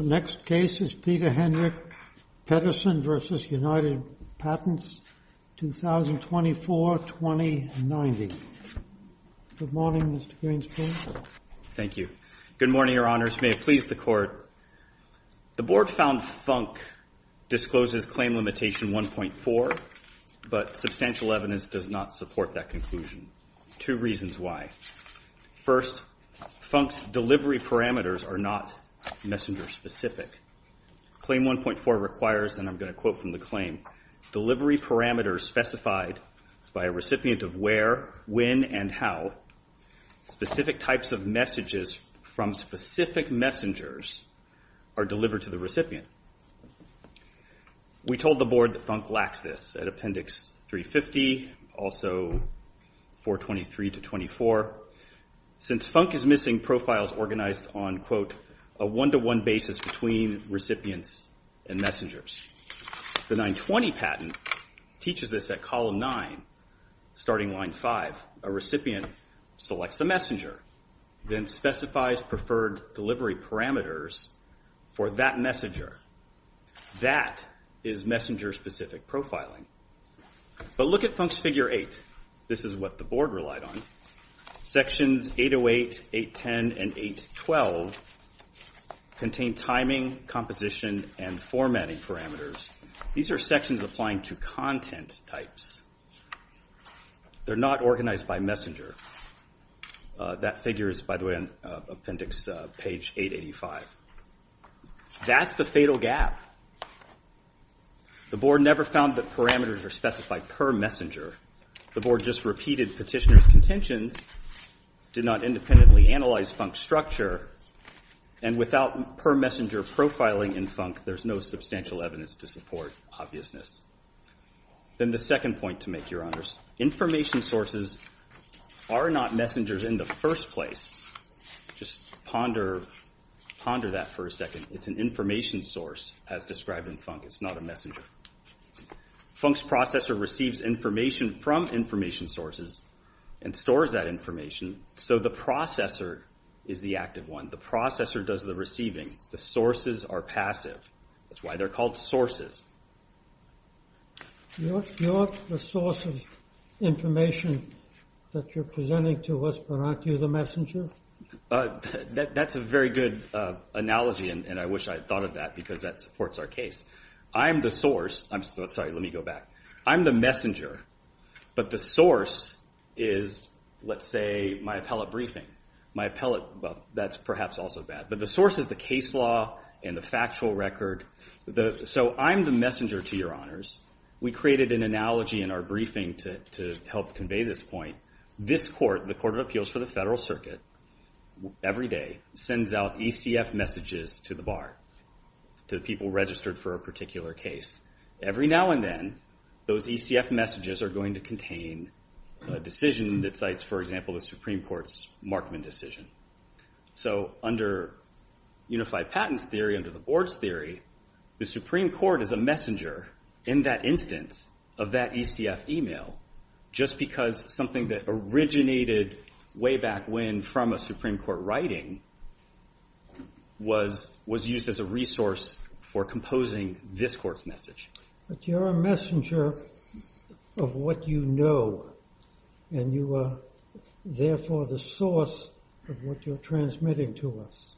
Next case is Peter Henrich Pedersen v. United Patents, 2024-2090. Good morning, Mr. Greenspan. Thank you. Good morning, Your Honors. May it please the Court. The Board found Funk discloses claim limitation 1.4, but substantial evidence does not support that conclusion. Two reasons why. First, Funk's delivery parameters are not messenger-specific. Claim 1.4 requires, and I'm going to quote from the claim, delivery parameters specified by a recipient of where, when, and how specific types of messages from specific messengers are delivered to the recipient. We told the Board that Funk lacks this at Appendix 350, also 423-24. Since Funk is missing profiles organized on, quote, a one-to-one basis between recipients and messengers. The 920 patent teaches this at column 9, starting line 5. A recipient selects a messenger, then specifies preferred delivery parameters for that messenger. That is messenger-specific profiling. But look at Funk's Figure 8. This is what the Board relied on. Sections 808, 810, and 812 contain timing, composition, and formatting parameters. These are sections applying to content types. They're not organized by messenger. That figure is, by the way, on Appendix page 885. That's the fatal gap. The Board never found that parameters were specified per messenger. The Board just repeated petitioner's contentions, did not independently analyze Funk's structure, and without per-messenger profiling in Funk, there's no substantial evidence to support obviousness. Then the second point to make, Your Honors. Information sources are not messengers in the first place. Just ponder that for a second. It's an information source, as described in Funk. It's not a messenger. Funk's processor receives information from information sources and stores that information, so the processor is the active one. The processor does the receiving. The sources are passive. That's why they're called sources. You're the source of information that you're presenting to us, but aren't you the messenger? That's a very good analogy, and I wish I had thought of that because that supports our case. I'm the source. I'm sorry. Let me go back. I'm the messenger, but the source is, let's say, my appellate briefing. My appellate, well, that's perhaps also bad. But the source is the case law and the factual record. So I'm the messenger to Your Honors. We created an analogy in our briefing to help convey this point. This court, the Court of Appeals for the Federal Circuit, every day sends out ECF messages to the bar, to the people registered for a particular case. Every now and then, those ECF messages are going to contain a decision that cites, for example, the Supreme Court's Markman decision. So under unified patents theory, under the board's theory, the Supreme Court is a messenger in that instance of that ECF email, just because something that originated way back when from a Supreme Court writing was used as a resource for composing this court's message. But you're a messenger of what you know. And you are, therefore, the source of what you're transmitting to us.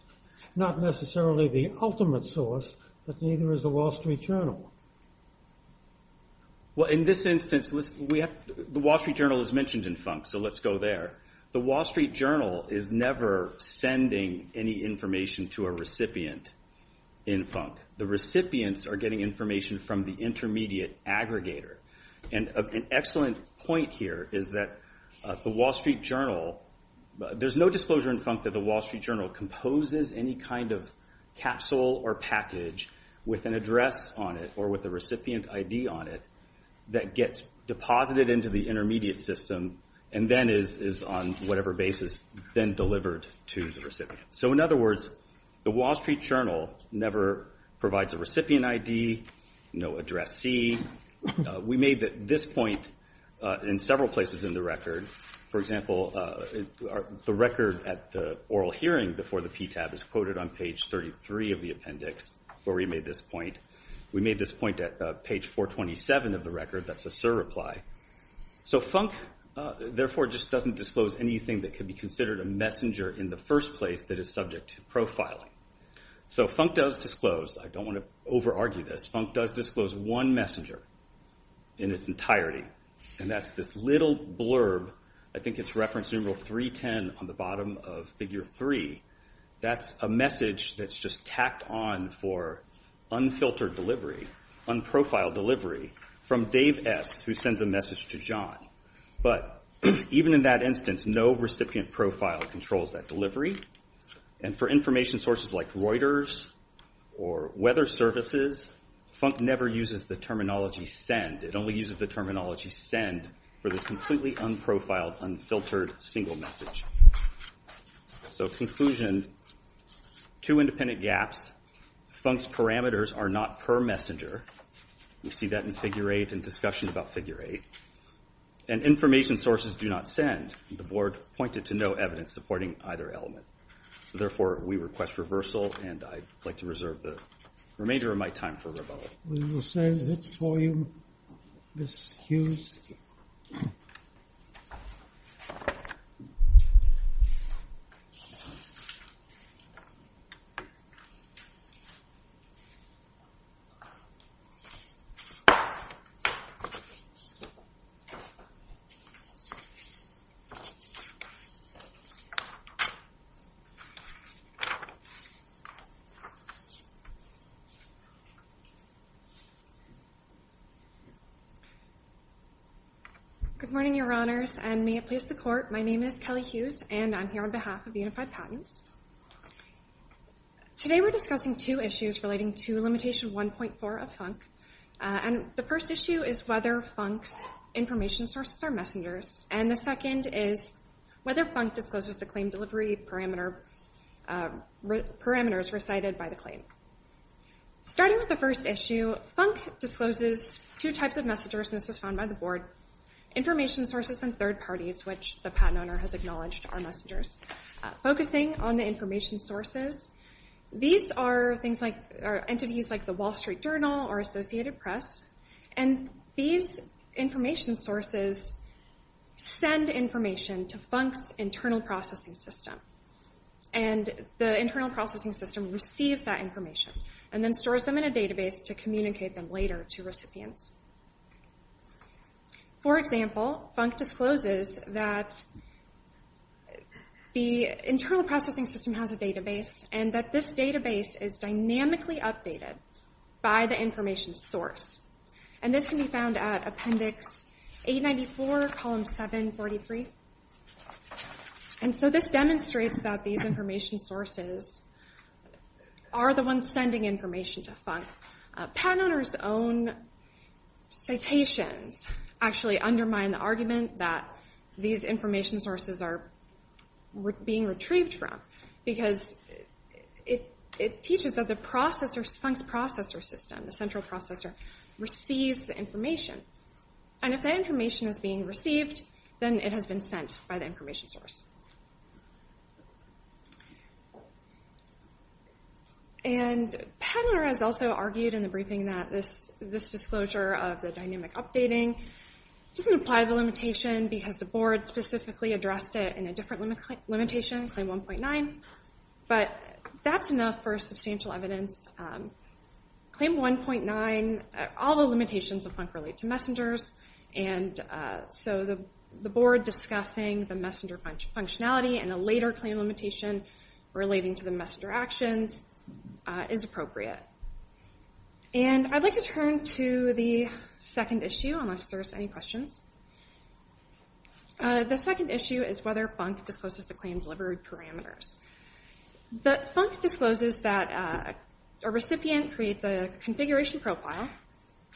Not necessarily the ultimate source, but neither is the Wall Street Journal. Well, in this instance, the Wall Street Journal is mentioned in funk, so let's go there. The Wall Street Journal is never sending any information to a recipient in funk. The recipients are getting information from the intermediate aggregator. And an excellent point here is that the Wall Street Journal, there's no disclosure in funk that the Wall Street Journal composes any kind of capsule or package with an address on it, or with a recipient ID on it, that gets deposited into the intermediate system, and then is, on whatever basis, then delivered to the recipient. So in other words, the Wall Street Journal never provides a recipient ID, no address C. We made this point in several places in the record. For example, the record at the oral hearing before the PTAB is quoted on page 33 of the appendix where we made this point. We made this point at page 427 of the record. That's a surreply. So funk, therefore, just doesn't disclose anything that could be considered a messenger in the first place that is subject to profiling. So funk does disclose. I don't want to over-argue this. Funk does disclose one messenger in its entirety, and that's this little blurb. I think it's reference numeral 310 on the bottom of figure 3. That's a message that's just tacked on for unfiltered delivery, unprofiled delivery, from Dave S., who sends a message to John. But even in that instance, no recipient profile controls that delivery. And for information sources like Reuters or weather services, funk never uses the terminology send. It only uses the terminology send for this completely unprofiled, unfiltered, single message. So in conclusion, two independent gaps. Funk's parameters are not per messenger. We see that in figure 8 and discussion about figure 8. And information sources do not send. The board pointed to no evidence supporting either element. So therefore, we request reversal, and I'd like to reserve the remainder of my time for rebuttal. We will send it for you, Ms. Hughes. Good morning, Your Honors, and may it please the Court. My name is Kelly Hughes, and I'm here on behalf of Unified Patents. Today we're discussing two issues relating to limitation 1.4 of Funk. And the first issue is whether Funk's information sources are messengers, and the second is whether Funk discloses the claim delivery parameters recited by the claim. Starting with the first issue, Funk discloses two types of messengers, and this was found by the board, information sources and third parties, which the patent owner has acknowledged are messengers. Focusing on the information sources, these are entities like the Wall Street Journal or Associated Press, and these information sources send information to Funk's internal processing system. And the internal processing system receives that information and then stores them in a database to communicate them later to recipients. For example, Funk discloses that the internal processing system has a database and that this database is dynamically updated by the information source. And this can be found at Appendix 894, Column 743. And so this demonstrates that these information sources are the ones sending information to Funk. Patent owners' own citations actually undermine the argument that these information sources are being retrieved from, because it teaches that Funk's processor system, the central processor, receives the information. And if that information is being received, then it has been sent by the information source. And the patent owner has also argued in the briefing that this disclosure of the dynamic updating doesn't apply to the limitation because the board specifically addressed it in a different limitation, Claim 1.9. But that's enough for substantial evidence. Claim 1.9, all the limitations of Funk relate to messengers, and so the board discussing the messenger functionality and a later claim limitation relating to the messenger actions is appropriate. And I'd like to turn to the second issue, unless there's any questions. The second issue is whether Funk discloses the claim delivery parameters. But Funk discloses that a recipient creates a configuration profile,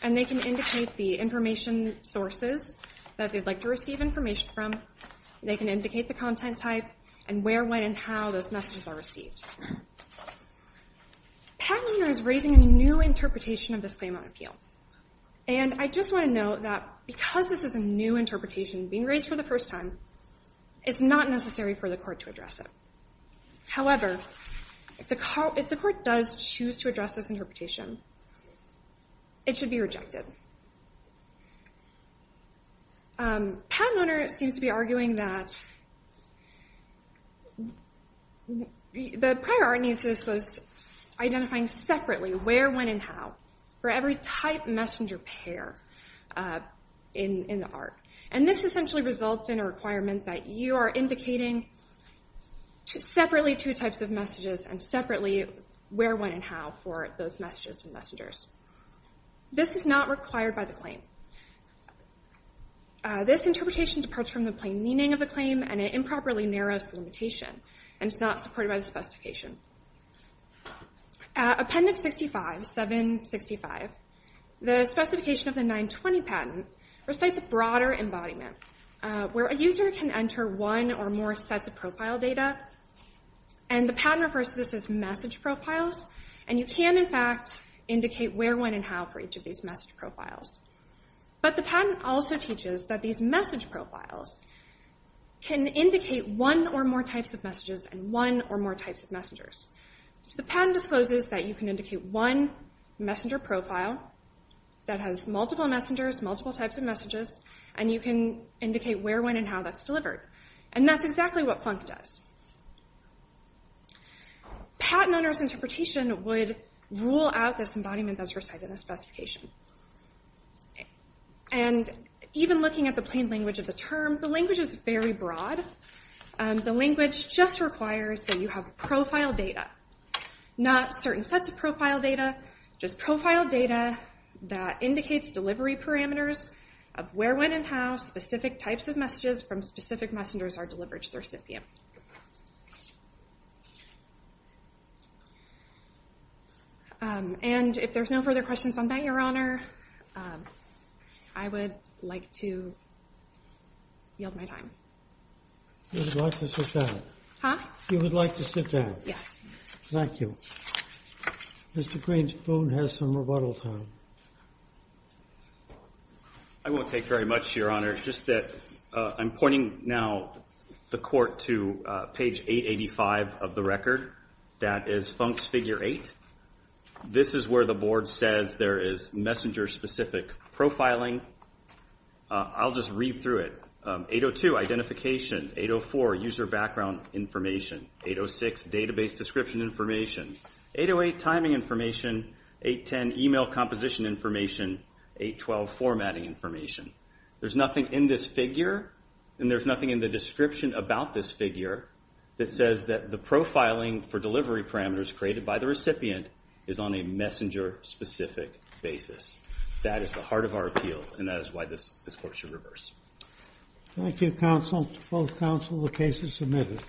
and they can indicate the information sources that they'd like to receive information from. They can indicate the content type and where, when, and how those messages are received. Patent owner is raising a new interpretation of this claim on appeal. And I just want to note that because this is a new interpretation being raised for the first time, it's not necessary for the court to address it. However, if the court does choose to address this interpretation, it should be rejected. Patent owner seems to be arguing that the prior art needs was identifying separately where, when, and how for every type messenger pair in the art. And this essentially results in a requirement that you are indicating separately two types of messages and separately where, when, and how for those messages and messengers. This is not required by the claim. This interpretation departs from the plain meaning of the claim, and it improperly narrows the limitation. And it's not supported by the specification. Appendix 65, 765, the specification of the 920 patent recites a broader embodiment where a user can enter one or more sets of profile data. And the patent refers to this as message profiles. And you can, in fact, indicate where, when, and how for each of these message profiles. But the patent also teaches that these message profiles can indicate one or more types of messages and one or more types of messengers. So the patent discloses that you can indicate one messenger profile that has multiple messengers, multiple types of messages, and you can indicate where, when, and how that's delivered. And that's exactly what Funk does. Patent owner's interpretation would rule out this embodiment that's recited in the specification. And even looking at the plain language of the term, the language is very broad. The language just requires that you have profile data, not certain sets of profile data, just profile data that indicates delivery parameters of where, when, and how specific types of messages from specific messengers are delivered to the recipient. And if there's no further questions on that, Your Honor, I would like to yield my time. You would like to sit down? Huh? You would like to sit down? Yes. Thank you. Mr. Green's phone has some rebuttal time. I won't take very much, Your Honor. I'm pointing now the court to page 885 of the record. That is Funk's figure 8. This is where the board says there is messenger-specific profiling. I'll just read through it. 802, identification. 804, user background information. 806, database description information. 808, timing information. 810, email composition information. 812, formatting information. There's nothing in this figure, and there's nothing in the description about this figure, that says that the profiling for delivery parameters created by the recipient is on a messenger-specific basis. That is the heart of our appeal, and that is why this court should reverse. Thank you, counsel, both counsel. The case is submitted.